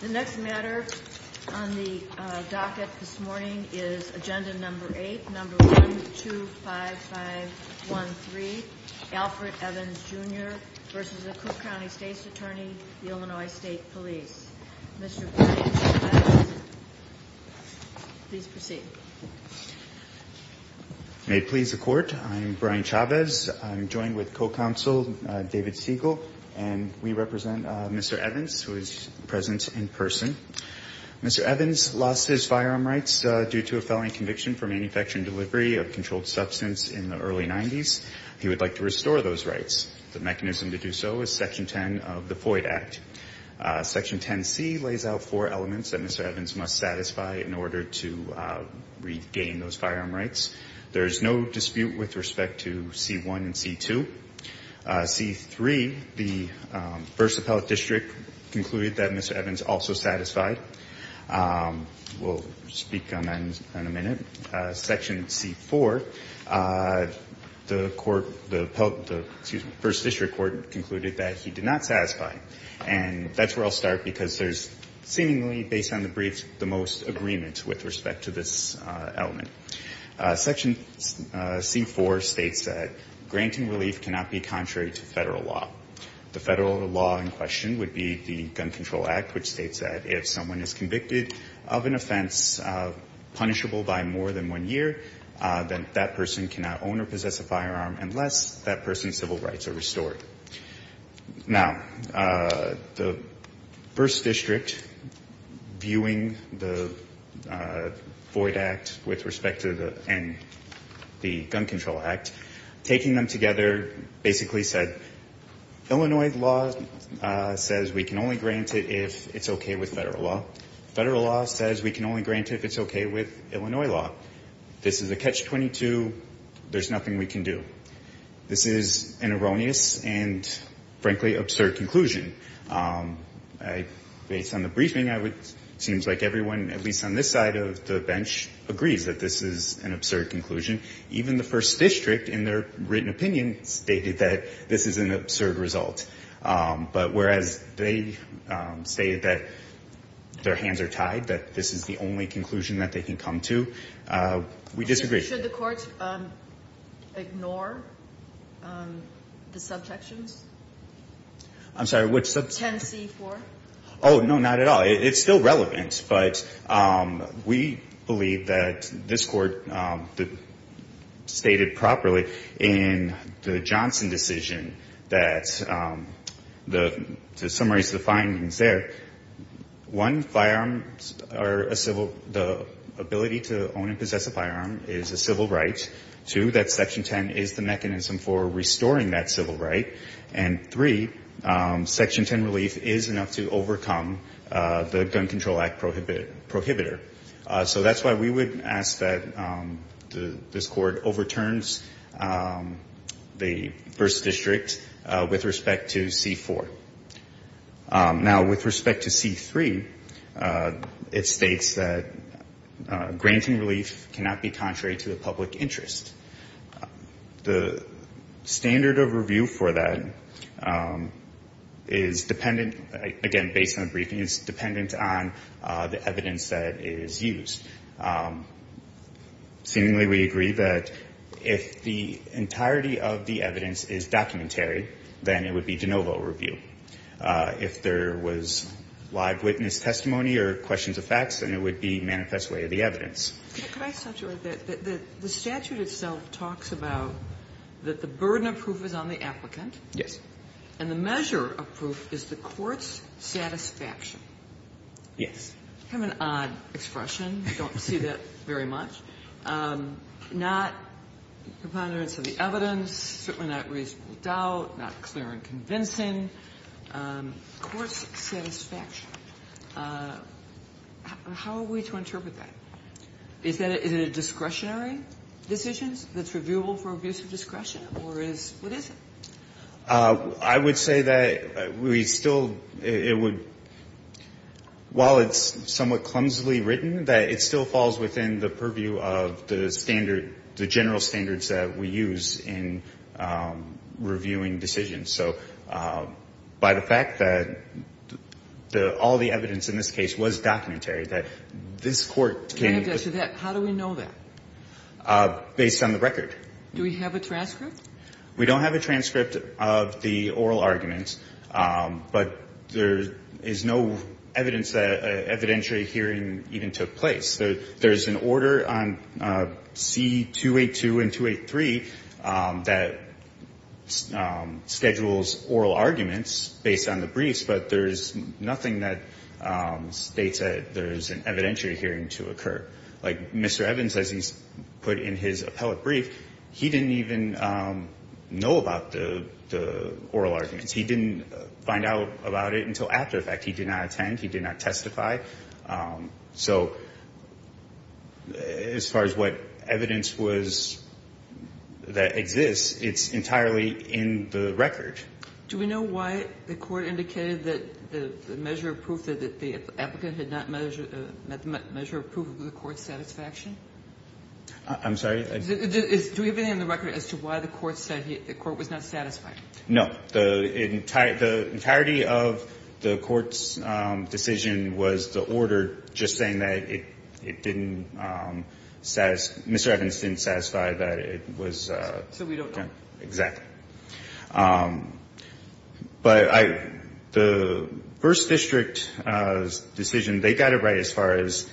The next matter on the docket this morning is agenda number 8, number 1, 2, 5, 5, 1, 3. Alfred Evans Jr. v. The Cook County State's Attorney, Illinois State Police. Mr. Evans, please proceed. May it please the Court, I'm Brian Chavez. I'm joined with co-counsel David Siegel. And we represent Mr. Evans, who is present in person. Mr. Evans lost his firearm rights due to a felony conviction for manufacturing delivery of controlled substance in the early 90s. He would like to restore those rights. The mechanism to do so is Section 10 of the FOID Act. Section 10C lays out four elements that Mr. Evans must satisfy in order to regain those firearm rights. There is no dispute with respect to C1 and C2. C3, the First Appellate District concluded that Mr. Evans also satisfied. We'll speak on that in a minute. Section C4, the Court, the First District Court concluded that he did not satisfy. And that's where I'll start, because there's seemingly, based on the briefs, the most agreement with respect to this element. Section C4 states that grant and relief cannot be contrary to Federal law. The Federal law in question would be the Gun Control Act, which states that if someone is convicted of an offense punishable by more than one year, then that person cannot own or possess a firearm unless that person's civil rights are restored. Now, the First District, viewing the FOID Act with respect to the Gun Control Act, taking them together, basically said, Illinois law says we can only grant it if it's okay with Federal law. Federal law says we can only grant it if it's okay with Illinois law. This is a Catch-22. There's nothing we can do. This is an erroneous and, frankly, absurd conclusion. Based on the briefing, it seems like everyone, at least on this side of the bench, agrees that this is an absurd conclusion. Even the First District, in their written opinion, stated that this is an absurd result. But whereas they say that their hands are tied, that this is the only conclusion that they can come to, we disagree. Should the Court ignore the subsections? I'm sorry, which subsection? 10C4. Oh, no, not at all. It's still relevant. But we believe that this Court stated properly in the Johnson decision that, to summarize the findings there, one, firearms are a civil, the ability to own and possess a firearm is a civil right. Two, that Section 10 is the mechanism for restoring that civil right. And three, Section 10 relief is enough to overcome the Gun Control Act prohibitor. So that's why we would ask that this Court overturns the First District with respect to C4. Now, with respect to C3, it states that granting relief cannot be contrary to the public interest. The standard of review for that is dependent, again, based on the briefing, is dependent on the evidence that is used. Seemingly, we agree that if the entirety of the evidence is documentary, then it would be de novo review. If there was live witness testimony or questions of facts, then it would be manifest way of the evidence. The statute itself talks about that the burden of proof is on the applicant. Yes. And the measure of proof is the court's satisfaction. Yes. I have an odd expression. I don't see that very much. Not components of the evidence, certainly not reasonable doubt, not clear and convincing. Court's satisfaction. How are we to interpret that? Is it a discretionary decision that's reviewable for abuse of discretion, or is what is it? I would say that we still, it would, while it's somewhat clumsily written, that it still falls within the purview of the standard, the general standards that we use in reviewing decisions. So by the fact that all the evidence in this case was documentary, that this Court How do we know that? Based on the record. Do we have a transcript? We don't have a transcript of the oral argument, but there is no evidence that evidentiary hearing even took place. There's an order on C-282 and 283 that schedules oral arguments based on the briefs, but there's nothing that states that there's an evidentiary hearing to occur. Like Mr. Evans, as he's put in his appellate brief, he didn't even know about the oral arguments. He didn't find out about it until after the fact. He did not attend. He did not testify. So as far as what evidence was that exists, it's entirely in the record. Do we know why the Court indicated that the measure of proof that the applicant had not met the measure of proof of the Court's satisfaction? I'm sorry? Do we have anything on the record as to why the Court said the Court was not satisfied? No. The entirety of the Court's decision was the order just saying that it didn't satisfy Mr. Evans didn't satisfy that it was. So we don't know. Exactly. But the first district's decision, they got it right as far as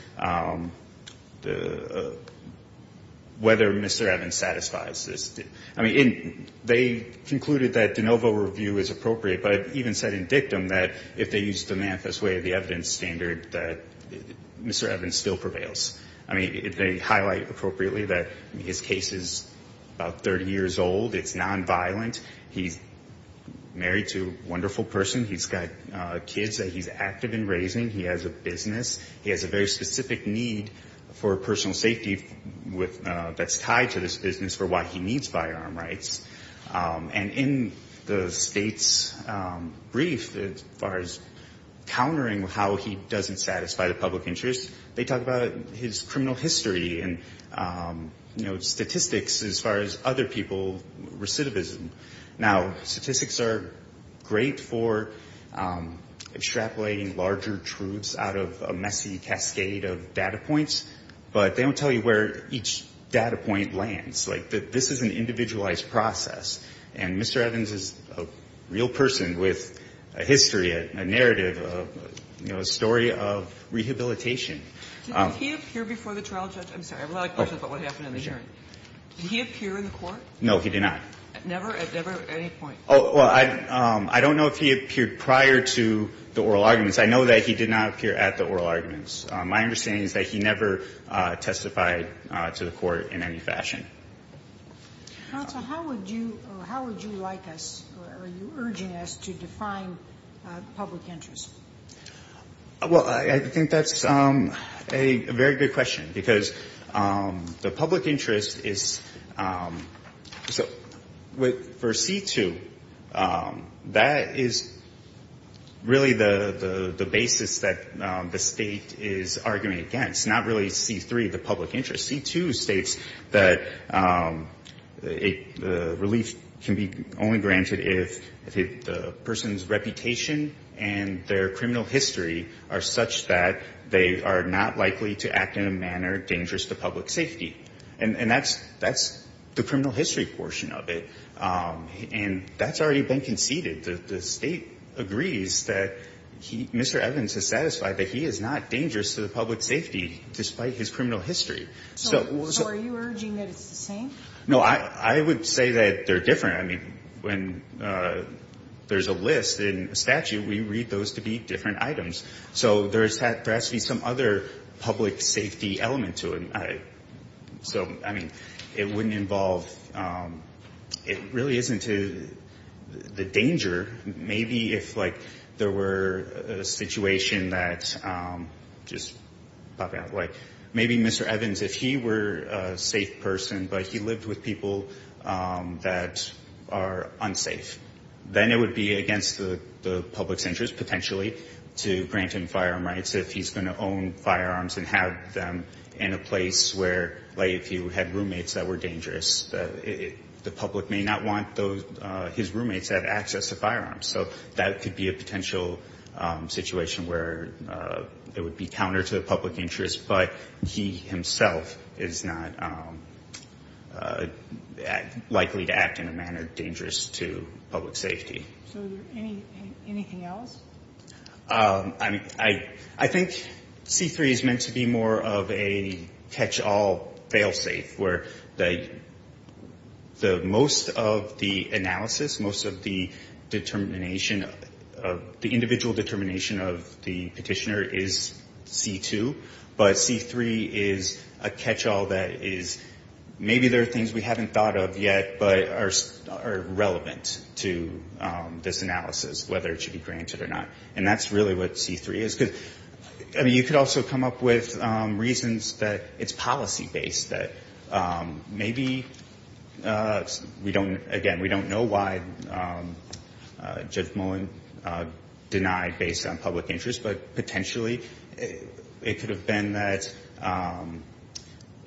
whether Mr. Evans satisfies this. I mean, they concluded that de novo review is appropriate, but even said in dictum that if they used the manifest way of the evidence standard that Mr. Evans still prevails. I mean, if they highlight appropriately that his case is about 30 years old, it's nonviolent, he's married to a wonderful person, he's got kids that he's active in raising, he has a business, he has a very specific need for personal safety that's tied to this business for why he needs firearm rights. And in the State's brief as far as countering how he doesn't satisfy the public interest, they talk about his criminal history and, you know, statistics as far as other people, recidivism. Now, statistics are great for extrapolating larger truths out of a messy cascade of data points, but they don't tell you where each data point lands. Like, this is an individualized process. And Mr. Evans is a real person with a history, a narrative, you know, a story of rehabilitation Did he appear before the trial judge? I'm sorry, I have a lot of questions about what happened in the hearing. Did he appear in the court? No, he did not. Never at any point? Oh, well, I don't know if he appeared prior to the oral arguments. I know that he did not appear at the oral arguments. My understanding is that he never testified to the court in any fashion. Counsel, how would you like us or are you urging us to define public interest? Well, I think that's a very good question because the public interest is so for C-2, that is really the basis that the State is arguing against, not really C-3, the public interest. C-2 states that relief can be only granted if the person's reputation and their criminal history are such that they are not likely to act in a manner dangerous to public safety. And that's the criminal history portion of it. And that's already been conceded. The State agrees that Mr. Evans is satisfied that he is not dangerous to the public safety despite his criminal history. So are you urging that it's the same? No, I would say that they're different. I mean, when there's a list in a statute, we read those to be different items. So there has to be some other public safety element to it. So, I mean, it wouldn't involve – it really isn't the danger. Maybe if, like, there were a situation that – just popping out. Like, maybe Mr. Evans, if he were a safe person, but he lived with people that are unsafe, then it would be against the public's interest, potentially, to grant him firearm rights if he's going to own firearms and have them in a place where, like, if you had roommates that were dangerous, the public may not want those – his roommates to have access to firearms. So that could be a potential situation where it would be counter to the public interest. But he himself is not likely to act in a manner dangerous to public safety. So is there anything else? I think C-3 is meant to be more of a catch-all, fail-safe, where most of the analysis, most of the determination of – the individual determination of the petitioner is C-2. But C-3 is a catch-all that is – maybe there are things we haven't thought of yet, but are relevant to this analysis, whether it should be granted or not. And that's really what C-3 is. Because, I mean, you could also come up with reasons that it's policy-based, that maybe we don't – again, we don't know why Judge Mullen denied based on public interest, but potentially it could have been that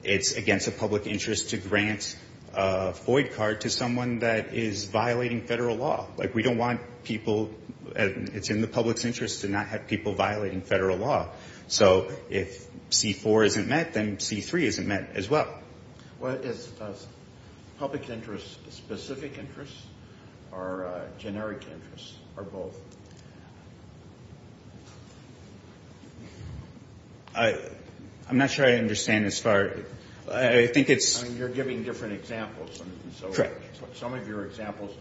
it's against the public interest to grant a void card to someone that is violating federal law. Like, we don't want people – it's in the public's interest to not have people violating federal law. So if C-4 isn't met, then C-3 isn't met as well. Well, is public interest specific interest, or generic interest, or both? I'm not sure I understand as far – I think it's – I mean, you're giving different examples. Correct. Some of your examples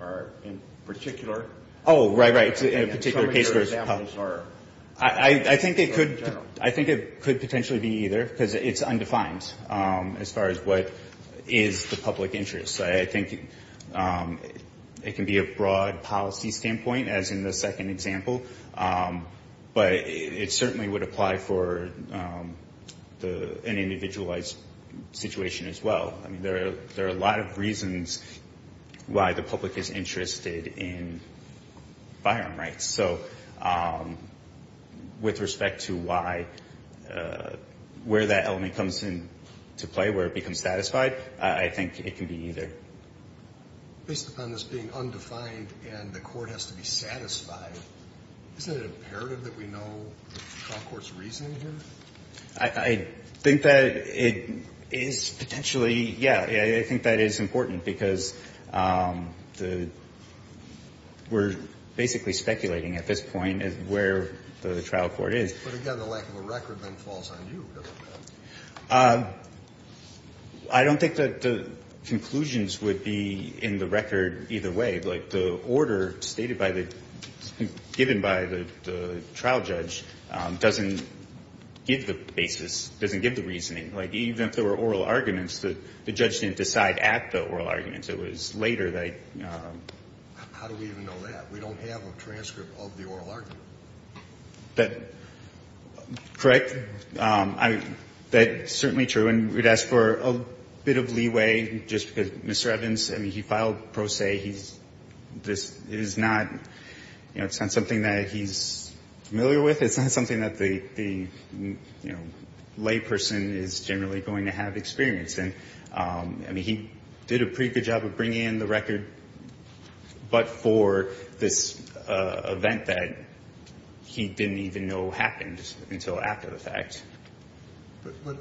are in particular – Oh, right, right. Some of your examples are – I think it could potentially be either, because it's undefined as far as what is the public interest. I think it can be a broad policy standpoint, as in the second example, but it certainly would apply for an individualized situation as well. I mean, there are a lot of reasons why the public is interested in firearm rights. So with respect to why – where that element comes into play, where it becomes satisfied, I think it can be either. Based upon this being undefined and the court has to be satisfied, isn't it imperative that we know the trial court's reasoning here? I think that it is potentially – yeah, I think that is important, because the – we're basically speculating at this point as to where the trial court is. But again, the lack of a record then falls on you. I don't think that the conclusions would be in the record either way. Like, the order stated by the – given by the trial judge doesn't give the basis, doesn't give the reasoning. Like, even if there were oral arguments, the judge didn't decide at the oral arguments. It was later that he – How do we even know that? We don't have a transcript of the oral argument. That – correct? I mean, that's certainly true. And we'd ask for a bit of leeway just because Mr. Evans, I mean, he filed pro se. He's – this is not – you know, it's not something that he's familiar with. It's not something that the, you know, lay person is generally going to have experience in. I mean, he did a pretty good job of bringing in the record, but for this event that he didn't even know happened until after the fact. But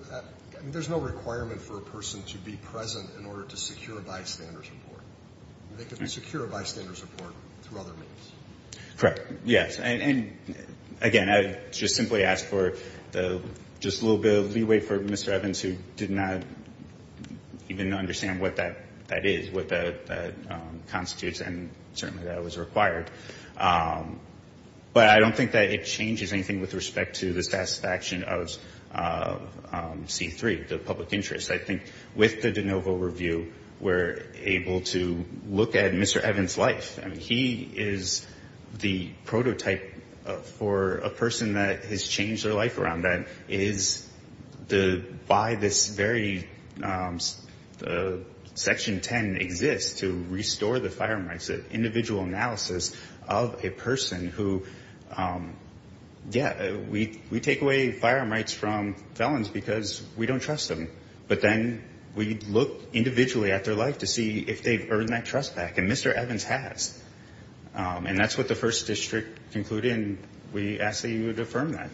there's no requirement for a person to be present in order to secure a bystander's report. They could secure a bystander's report through other means. Correct. Yes. And, again, I would just simply ask for just a little bit of leeway for Mr. Evans, who did not even understand what that is, what that constitutes, and certainly that was required. But I don't think that it changes anything with respect to the satisfaction of C-3, the public interest. I think with the de novo review, we're able to look at Mr. Evans' life. I mean, he is the prototype for a person that has changed their life around that, is by this very – Section 10 exists to restore the firearm rights, an individual analysis of a person who – yeah, we take away firearm rights from felons because we don't trust them. But then we look individually at their life to see if they've earned that trust back. And Mr. Evans has. And that's what the first district concluded, and we ask that you would affirm that.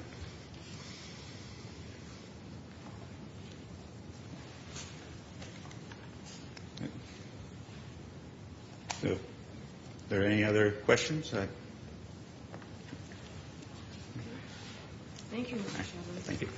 Are there any other questions? Thank you, Mr. Evans. Thank you.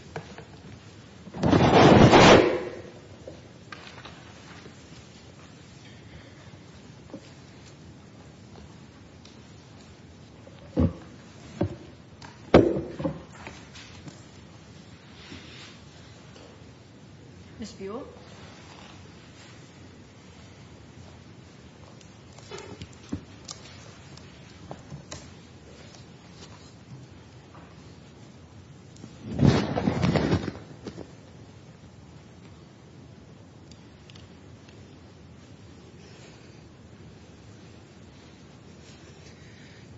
Ms. Buell.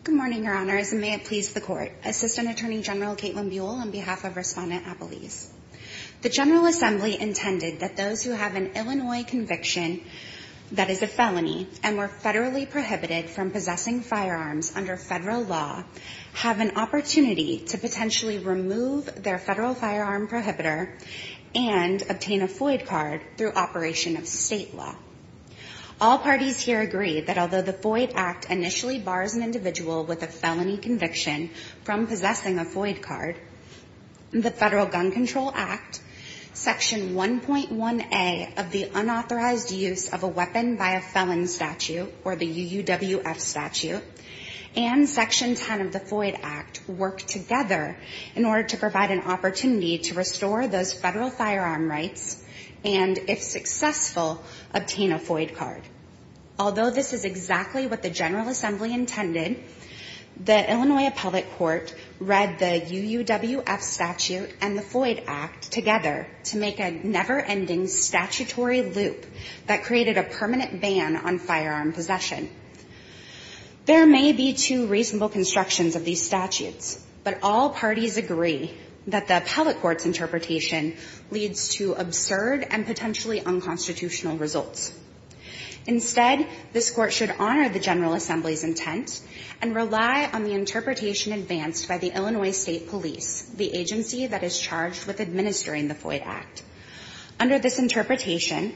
Good morning, Your Honors, and may it please the Court. Assistant Attorney General Caitlin Buell, on behalf of Respondent Appelese. The General Assembly intended that those who have an Illinois conviction that is a felony and were federally prohibited from possessing firearms under federal law have an opportunity to potentially remove their federal firearm prohibitor and obtain a FOID card through operation of state law. All parties here agree that although the FOID Act initially bars an individual with a felony conviction from possessing a FOID card, the Federal Gun Control Act, Section 1.1a of the Unauthorized Use of a Weapon by a Felon Statute, or the UUWF Statute, and Section 10 of the FOID Act work together in order to provide an opportunity to restore those federal firearm rights and, if successful, obtain a FOID card. Although this is exactly what the General Assembly intended, the Illinois Appellate Court read the UUWF Statute and the FOID Act together to make a never-ending statutory loop that created a permanent ban on firearm possession. There may be two reasonable constructions of these statutes, but all parties agree that the Appellate Court's interpretation leads to absurd and potentially unconstitutional results. Instead, this Court should honor the General Assembly's intent and rely on the interpretation advanced by the Illinois State Police, the agency that is charged with administering the FOID Act. Under this interpretation,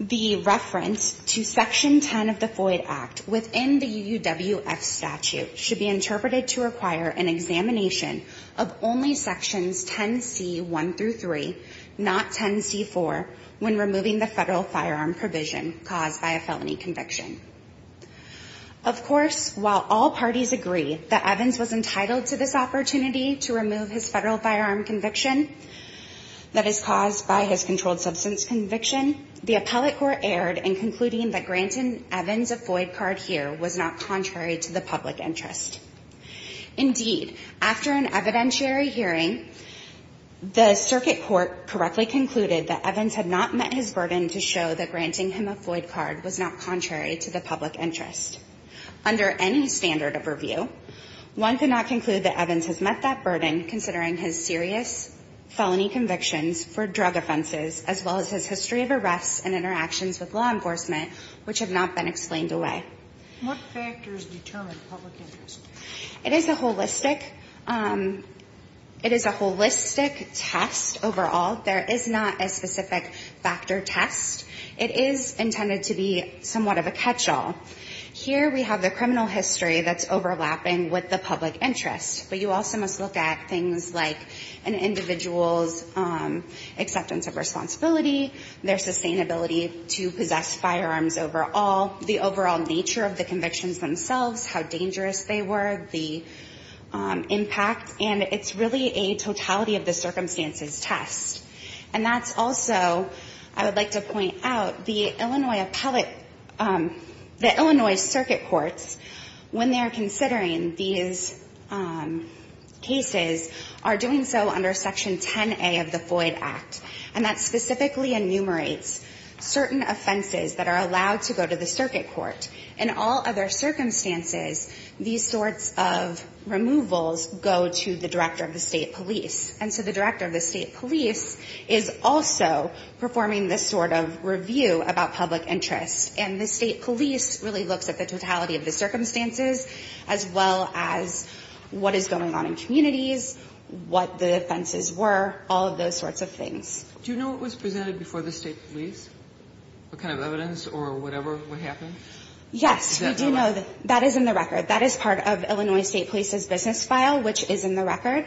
the reference to Section 10 of the FOID Act within the UUWF Statute should be interpreted to require an examination of only Sections 10c1-3, not 10c4, when removing the federal firearm provision caused by a felony conviction. Of course, while all parties agree that Evans was entitled to this opportunity to remove his federal firearm conviction that is caused by his controlled substance conviction, the Appellate Court erred in concluding that granting Evans a FOID card here was not contrary to the public interest. Indeed, after an evidentiary hearing, the Circuit Court correctly concluded that Evans had not met his burden to show that granting him a FOID card was not contrary to the public interest. Under any standard of review, one could not conclude that Evans has met that burden considering his serious felony convictions for drug offenses as well as his history of arrests and interactions with law enforcement, which have not been explained away. What factors determine public interest? It is a holistic test overall. There is not a specific factor test. It is intended to be somewhat of a catchall. Here we have the criminal history that's overlapping with the public interest, but you also must look at things like an individual's acceptance of responsibility, their sustainability to possess firearms overall, the overall nature of the convictions themselves, how dangerous they were, the impact, and it's really a totality of the circumstances test. And that's also, I would like to point out, the Illinois Circuit Courts, when they're considering these cases, are doing so under Section 10A of the FOID Act, and that specifically enumerates certain offenses that are allowed to go to the circuit court. In all other circumstances, these sorts of removals go to the director of the state police, and so the director of the state police is also performing this sort of review about public interest, and the state police really looks at the totality of the circumstances as well as what is going on in communities, what the offenses were, all of those sorts of things. Do you know what was presented before the state police? What kind of evidence or whatever would happen? Yes, we do know. That is in the record. That is part of Illinois State Police's business file, which is in the record,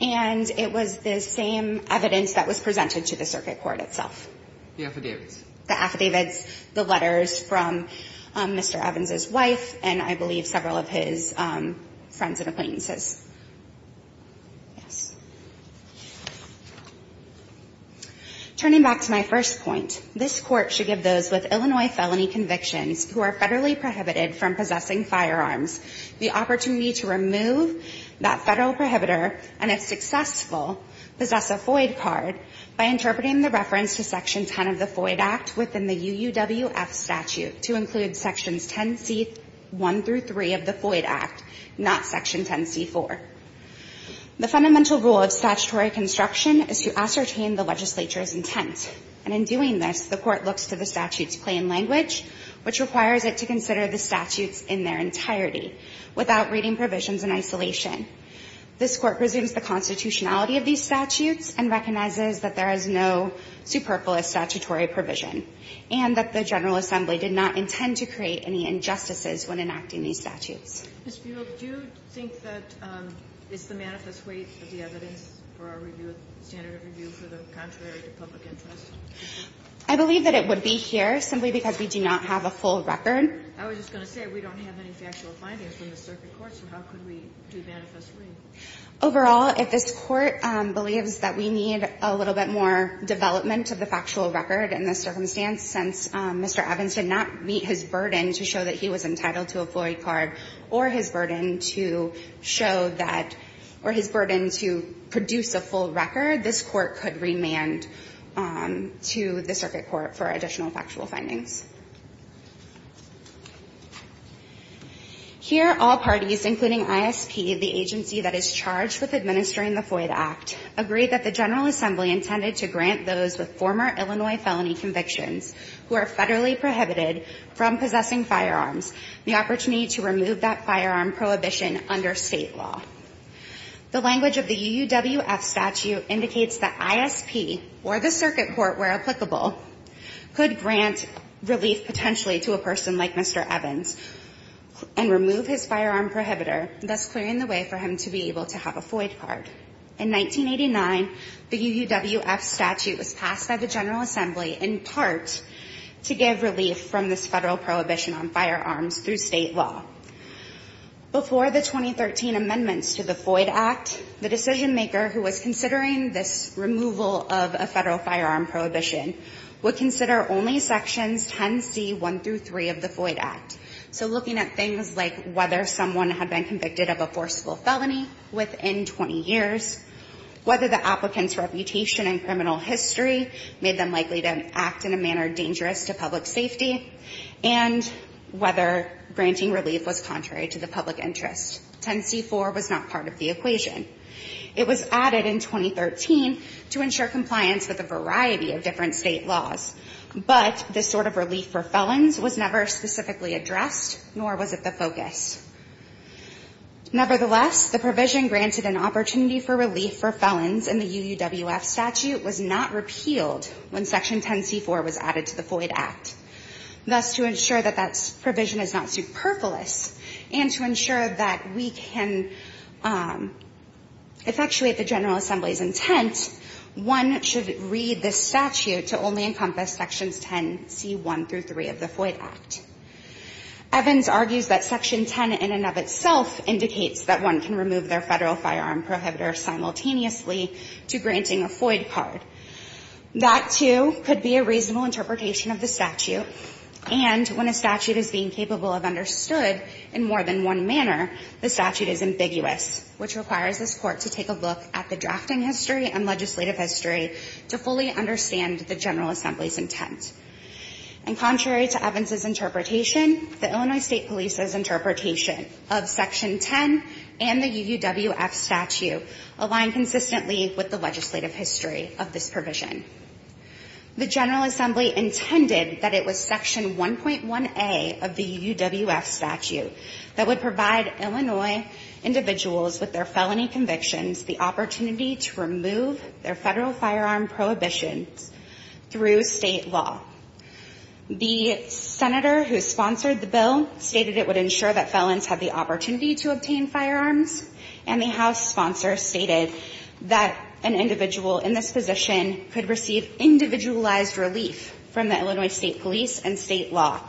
and it was the same evidence that was presented to the circuit court itself. The affidavits. The affidavits, the letters from Mr. Evans' wife and, I believe, several of his friends and acquaintances. Yes. Turning back to my first point, this court should give those with Illinois felony convictions who are federally prohibited from possessing firearms the opportunity to remove that federal prohibitor and, if successful, possess a FOID card by interpreting the reference to Section 10 of the FOID Act within the UUWF statute to include Sections 10c1 through 3 of the FOID Act, not Section 10c4. The fundamental rule of statutory construction is to ascertain the legislature's intent, and in doing this, the court looks to the statute's plain language, which requires it to consider the statutes in their entirety without reading provisions in isolation. This court presumes the constitutionality of these statutes and recognizes that there is no superfluous statutory provision and that the General Assembly did not intend to create any injustices when enacting Kagan Ms. Buol, do you think that it's the manifest weight of the evidence for our review of the standard of review for the contrary to public interest? I believe that it would be here simply because we do not have a full record. I was just going to say we don't have any factual findings from the circuit court, so how could we do manifestly? Overall, if this Court believes that we need a little bit more development of the factual record in this circumstance, since Mr. Evans did not meet his burden to show that he was entitled to a FOID card or his burden to show that or his burden to produce a full record, this Court could remand to the circuit court for additional factual findings. Here, all parties, including ISP, the agency that is charged with administering a FOID act, agree that the General Assembly intended to grant those with former Illinois felony convictions who are federally prohibited from possessing firearms the opportunity to remove that firearm prohibition under state law. The language of the UUWF statute indicates that ISP or the circuit court, where applicable, could grant relief potentially to a person like Mr. Evans and remove his firearm prohibitor, thus clearing the way for him to be able to have a FOID card. In 1989, the UUWF statute was passed by the General Assembly in part to give relief from this federal prohibition on firearms through state law. Before the 2013 amendments to the FOID act, the decision maker who was considering this removal of a federal firearm prohibition would consider only sections 10c1-3 of the FOID act. So looking at things like whether someone had been convicted of a forcible felony within 20 years, whether the applicant's reputation and criminal history made them likely to act in a manner dangerous to public safety, and whether granting relief was contrary to the public interest. 10c4 was not part of the equation. It was added in 2013 to ensure compliance with a variety of different state laws, but this sort of relief for felons was never specifically addressed, nor was it the focus. Nevertheless, the provision granted an opportunity for relief for felons in the UUWF statute was not repealed when section 10c4 was added to the FOID act. Thus, to ensure that that provision is not superfluous and to ensure that we can effectuate the General Assembly's intent, one should read this statute to only encompass sections 10c1-3 of the FOID act. Evans argues that section 10 in and of itself indicates that one can remove their federal firearm prohibitor simultaneously to granting a FOID card. That, too, could be a reasonable interpretation of the statute, and when a statute is being capable of understood in more than one manner, the statute is ambiguous, which requires this Court to take a look at the drafting history and legislative history to fully understand the General Assembly's intent. And contrary to Evans' interpretation, the Illinois State Police's interpretation of section 10 and the UUWF statute align consistently with the legislative history of this provision. The General Assembly intended that it was section 1.1a of the UUWF statute that would provide Illinois individuals with their felony convictions the opportunity to remove their federal firearm prohibitions through state law. The senator who sponsored the bill stated it would ensure that felons had the opportunity to obtain firearms, and the House sponsor stated that an individual in this position could receive individualized relief from the Illinois State Police and state law,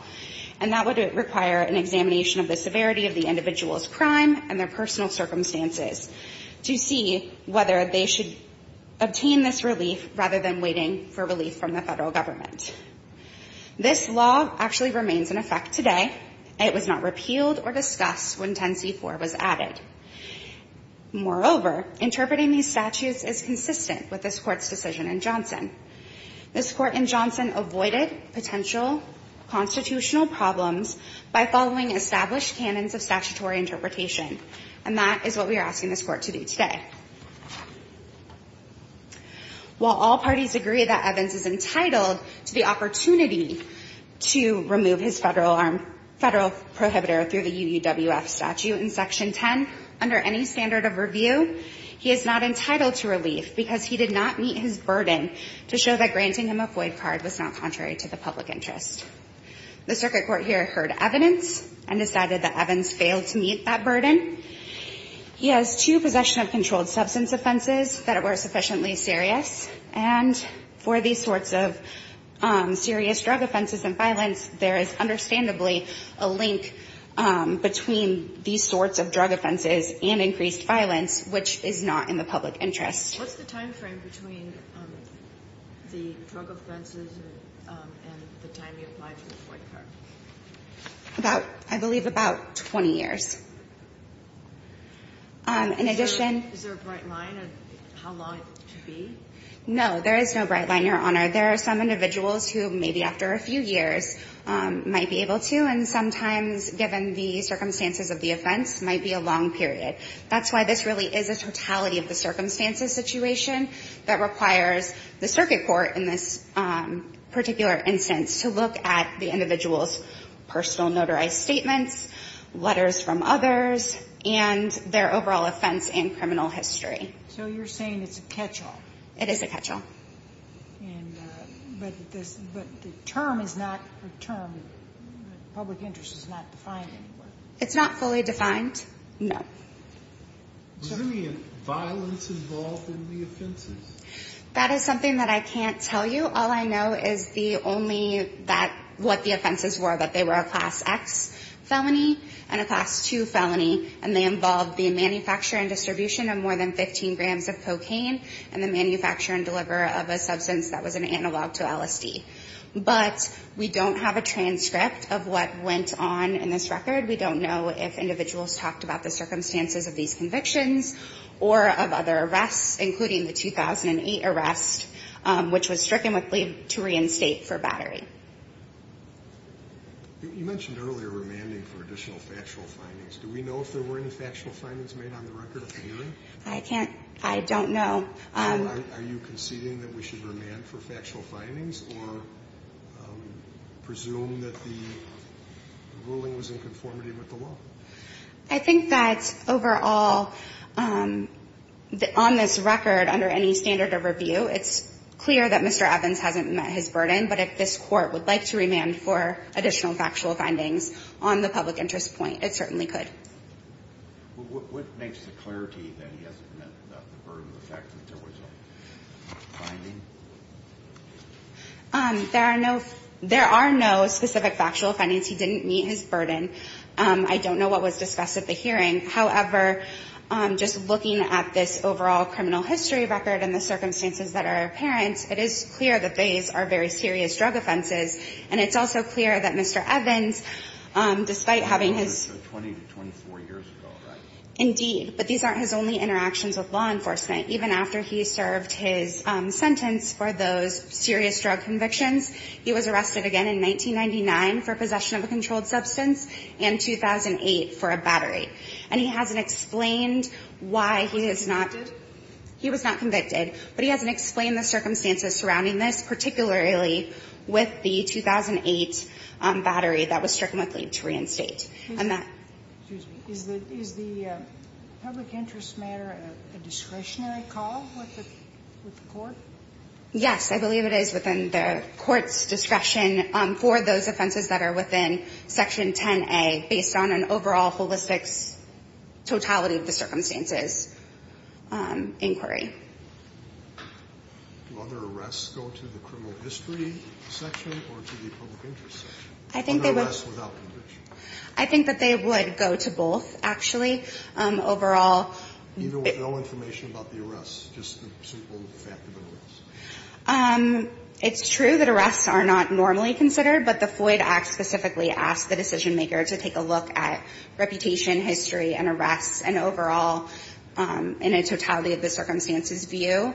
and that would require an examination of the severity of the obtain this relief rather than waiting for relief from the federal government. This law actually remains in effect today, and it was not repealed or discussed when 10c4 was added. Moreover, interpreting these statutes is consistent with this Court's decision in Johnson. This Court in Johnson avoided potential constitutional problems by following established canons of statutory interpretation, and that is what we are asking this Court to do today. While all parties agree that Evans is entitled to the opportunity to remove his federal firearm federal prohibitor through the UUWF statute in Section 10 under any standard of review, he is not entitled to relief because he did not meet his burden to show that granting him a FOIA card was not contrary to the public interest. The circuit court here heard evidence and decided that Evans failed to meet that burden. He has two possession of controlled substance offenses that were sufficiently serious, and for these sorts of serious drug offenses and violence, there is understandably a link between these sorts of drug offenses and increased violence, which is not in the public interest. What's the time frame between the drug offenses and the time he applied for the FOIA card? About, I believe, about 20 years. In addition to this. Is there a bright line on how long it should be? No, there is no bright line, Your Honor. There are some individuals who maybe after a few years might be able to, and sometimes given the circumstances of the offense, might be a long period. That's why this really is a totality of the circumstances situation that requires the circuit court in this particular instance to look at the individual's personal notarized statements, letters from others, and their overall offense and criminal history. So you're saying it's a catch-all? It is a catch-all. But the term is not a term. Public interest is not defined anywhere. It's not fully defined. No. Was there any violence involved in the offenses? That is something that I can't tell you. All I know is the only that, what the offenses were, that they were a Class X felony and a Class II felony, and they involved the manufacture and distribution of more than 15 grams of cocaine and the manufacture and deliver of a substance that was an analog to LSD. But we don't have a transcript of what went on in this record. We don't know if individuals talked about the circumstances of these convictions or of other arrests, including the 2008 arrest, which was stricken with leave to reinstate for battery. You mentioned earlier remanding for additional factual findings. Do we know if there were any factual findings made on the record at the hearing? I can't. I don't know. So are you conceding that we should remand for factual findings or presume that the ruling was in conformity with the law? I think that overall, on this record, under any standard of review, it's clear that Mr. Evans hasn't met his burden. But if this Court would like to remand for additional factual findings on the public interest point, it certainly could. What makes the clarity that he hasn't met the burden of the fact that there was a finding? There are no specific factual findings. He didn't meet his burden. I don't know what was discussed at the hearing. However, just looking at this overall criminal history record and the circumstances that are apparent, it is clear that these are very serious drug offenses. And it's also clear that Mr. Evans, despite having his 20 to 24 years ago, right? Indeed. But these aren't his only interactions with law enforcement. Even after he served his sentence for those serious drug convictions, he was arrested again in 1999 for possession of a controlled substance. And 2008 for a battery. And he hasn't explained why he has not been convicted. He was not convicted. But he hasn't explained the circumstances surrounding this, particularly with the 2008 battery that was stricken with lead to reinstate. Is the public interest matter a discretionary call with the Court? Yes. I believe it is within the Court's discretion for those offenses that are within Section 10A based on an overall holistic totality of the circumstances inquiry. Do other arrests go to the criminal history section or to the public interest section? I think they would. Other arrests without conviction. I think that they would go to both, actually. Overall. No information about the arrests? Just a simple fact of the notice? It's true that arrests are not normally considered, but the Floyd Act specifically asked the decisionmaker to take a look at reputation, history, and arrests. And overall, in a totality of the circumstances view,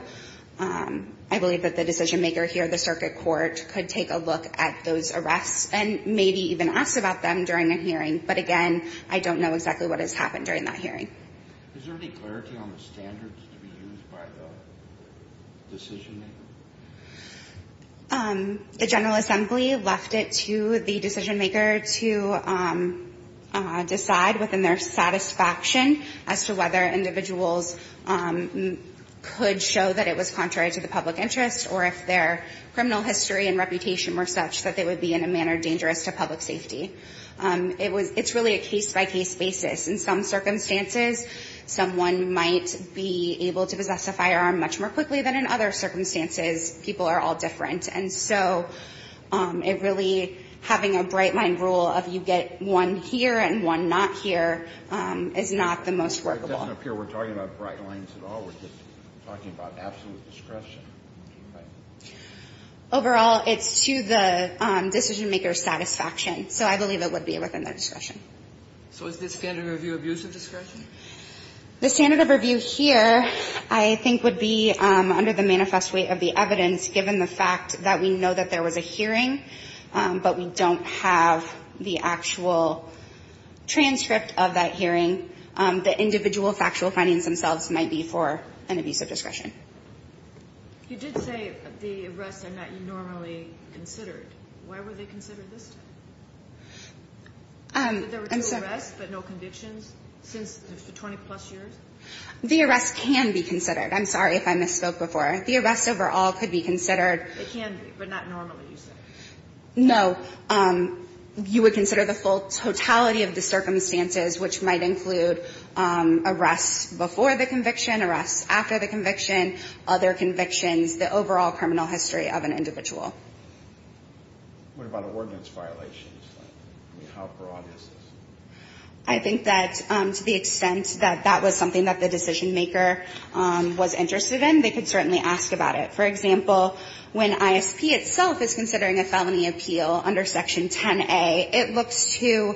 I believe that the decisionmaker here, the circuit court, could take a look at those arrests and maybe even ask about them during a hearing. But again, I don't know exactly what has happened during that hearing. Is there any clarity on the standards to be used by the decisionmaker? The General Assembly left it to the decisionmaker to decide within their satisfaction as to whether individuals could show that it was contrary to the public interest or if their criminal history and reputation were such that they would be in a manner dangerous to public safety. It's really a case-by-case basis. In some circumstances, someone might be able to possess a firearm much more quickly than in other circumstances. People are all different. And so it really, having a bright-line rule of you get one here and one not here is not the most workable. It doesn't appear we're talking about bright lines at all. We're just talking about absolute discretion. Right? Overall, it's to the decisionmaker's satisfaction. So I believe it would be within their discretion. So is the standard of review abusive discretion? The standard of review here I think would be under the manifest weight of the evidence given the fact that we know that there was a hearing, but we don't have the actual transcript of that hearing. The individual factual findings themselves might be for an abusive discretion. You did say the arrests are not normally considered. Why were they considered this time? There were two arrests but no convictions since the 20-plus years? The arrests can be considered. I'm sorry if I misspoke before. The arrests overall could be considered. They can be, but not normally, you said. No. You would consider the totality of the circumstances, which might include arrests before the conviction, arrests after the conviction, other convictions, the overall criminal history of an individual. What about ordinance violations? I mean, how broad is this? I think that to the extent that that was something that the decisionmaker was interested in, they could certainly ask about it. For example, when ISP itself is considering a felony appeal under Section 10A, it looks to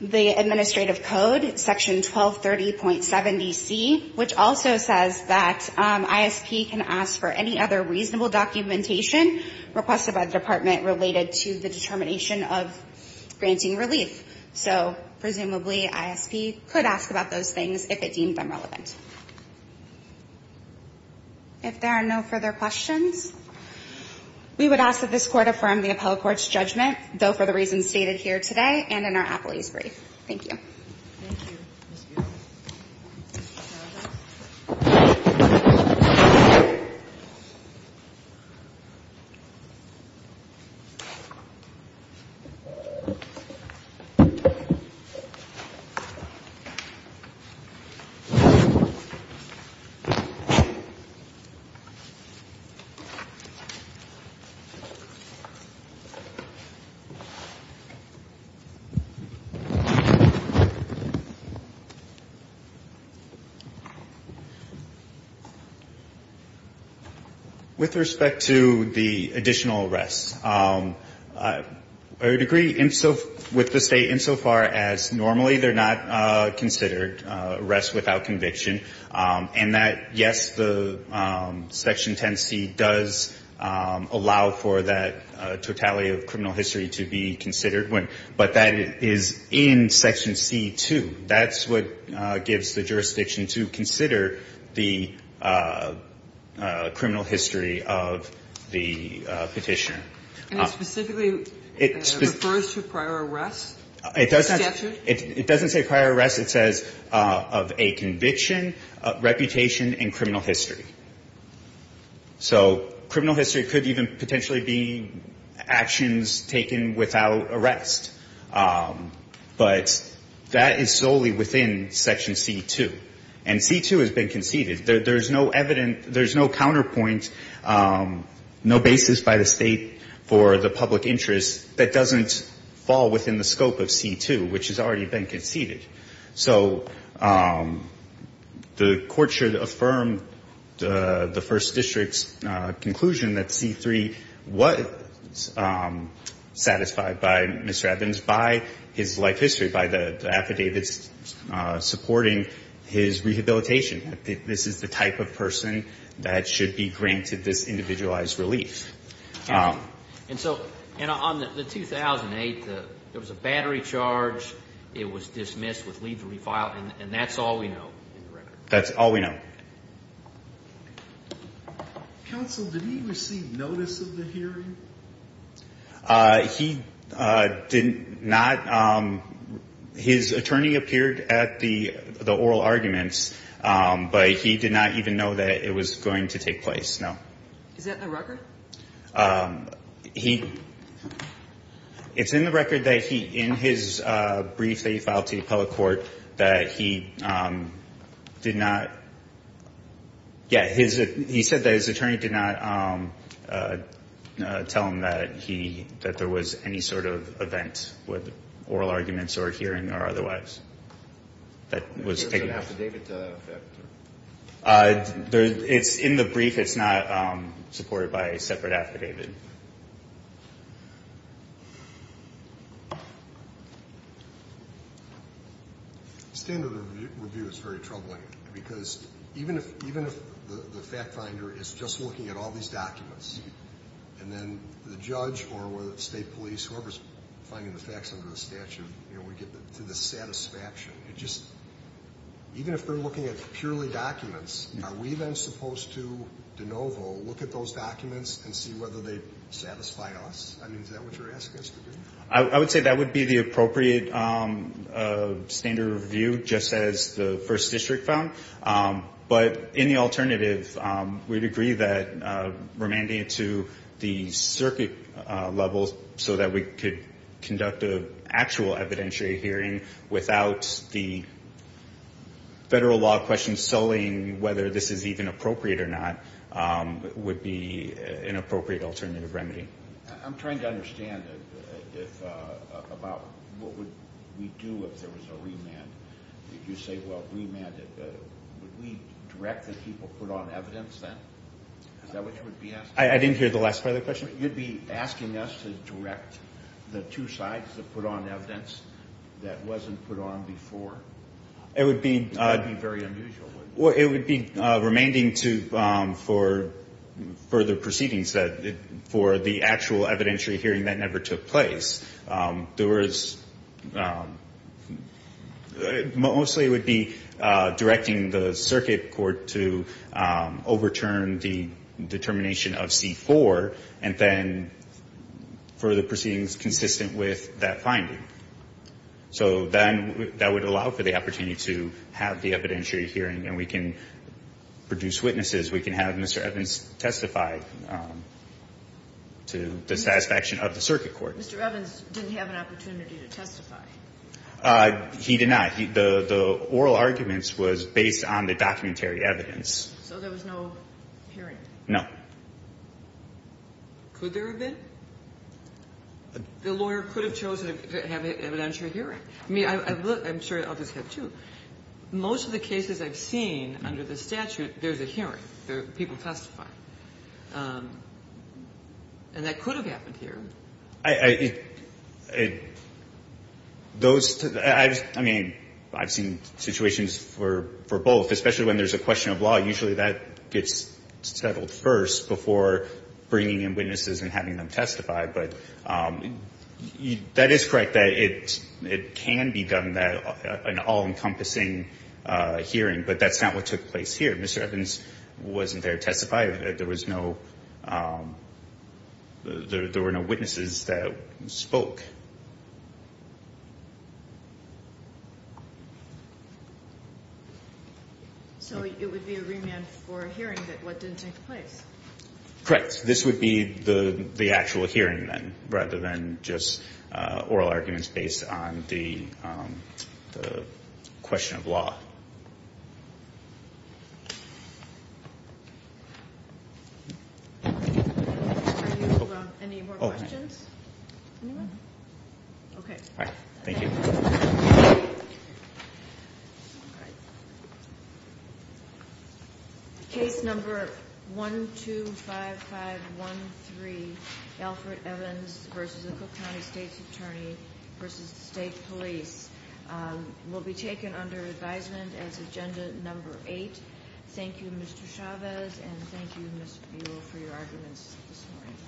the administrative code, Section 1230.7DC, which also says that ISP can ask for any other reasonable documentation requested by the Department related to the determination of granting relief. So presumably ISP could ask about those things if it deemed them relevant. If there are no further questions, we would ask that this Court affirm the appellate court's judgment, though for the reasons stated here today and in our appellee's Thank you. Thank you, Ms. Beard. With respect to the additional arrests, I would agree with the State insofar as normally they're not considered arrests without conviction, and that, yes, the Section 10C does allow for that totality of criminal history to be considered, but that is in Section 10C2. That's what gives the jurisdiction to consider the criminal history of the Petitioner. And it specifically refers to prior arrests? It doesn't say prior arrests. It says of a conviction, reputation and criminal history. So criminal history could even potentially be actions taken without arrest. But that is solely within Section C2. And C2 has been conceded. There's no evidence, there's no counterpoint, no basis by the State for the public interest that doesn't fall within the scope of C2, which has already been conceded. So the Court should affirm the First District's conclusion that C3 was satisfied by Mr. Evans, by his life history, by the affidavits supporting his rehabilitation. This is the type of person that should be granted this individualized relief. And so on the 2008, there was a battery charge. It was dismissed with leave to refile, and that's all we know in the record? That's all we know. Counsel, did he receive notice of the hearing? He did not. His attorney appeared at the oral arguments, but he did not even know that it was going to take place, no. He, it's in the record that he, in his brief that he filed to the public court, that he did not, yeah, he said that his attorney did not tell him that he, that there was any sort of event with oral arguments or a hearing or otherwise that was taking place. It's in the brief. It's not supported by a separate affidavit. Standard review is very troubling because even if, even if the fact finder is just looking at all these documents and then the judge or whether it's state police, whoever's finding the facts under the statute, you know, we get to the satisfaction. It just, even if they're looking at purely documents, are we then supposed to de novo, look at those documents and see whether they satisfy us? I mean, is that what you're asking us to do? I would say that would be the appropriate standard review just as the first district found. But in the alternative, we'd agree that remanding it to the circuit levels so that we could conduct an actual evidentiary hearing without the federal law question sullying whether this is even appropriate or not would be an appropriate alternative remedy. I'm trying to understand about what would we do if there was a remand. If you say, well, remand it, would we direct the people to put on evidence then? Is that what you would be asking? I didn't hear the last part of the question. You'd be asking us to direct the two sides to put on evidence that wasn't put on before? It would be very unusual. It would be remanding for further proceedings for the actual evidentiary hearing that never took place. Mostly it would be directing the circuit court to overturn the determination of C-4 and then further proceedings consistent with that finding. So then that would allow for the opportunity to have the evidentiary hearing and we can produce witnesses. We can have Mr. Evans testify to the satisfaction of the circuit court. Mr. Evans didn't have an opportunity to testify. He did not. The oral arguments was based on the documentary evidence. So there was no hearing? No. Could there have been? The lawyer could have chosen to have an evidentiary hearing. I mean, I'm sure others have, too. Most of the cases I've seen under the statute, there's a hearing. People testify. And that could have happened here. I mean, I've seen situations for both. Especially when there's a question of law. Usually that gets settled first before bringing in witnesses and having them testify. But that is correct that it can be done, an all-encompassing hearing. But that's not what took place here. Mr. Evans wasn't there to testify. There was no witnesses that spoke. So it would be a remand for a hearing that didn't take place? Correct. This would be the actual hearing, then, rather than just oral arguments based on the question of law. Any more questions? Okay. Thank you. All right. Case number 125513, Alfred Evans v. Cook County State's Attorney v. State Police, will be taken under advisement as agenda number eight. Thank you, Mr. Chavez, and thank you, Ms. Buol, for your arguments this morning.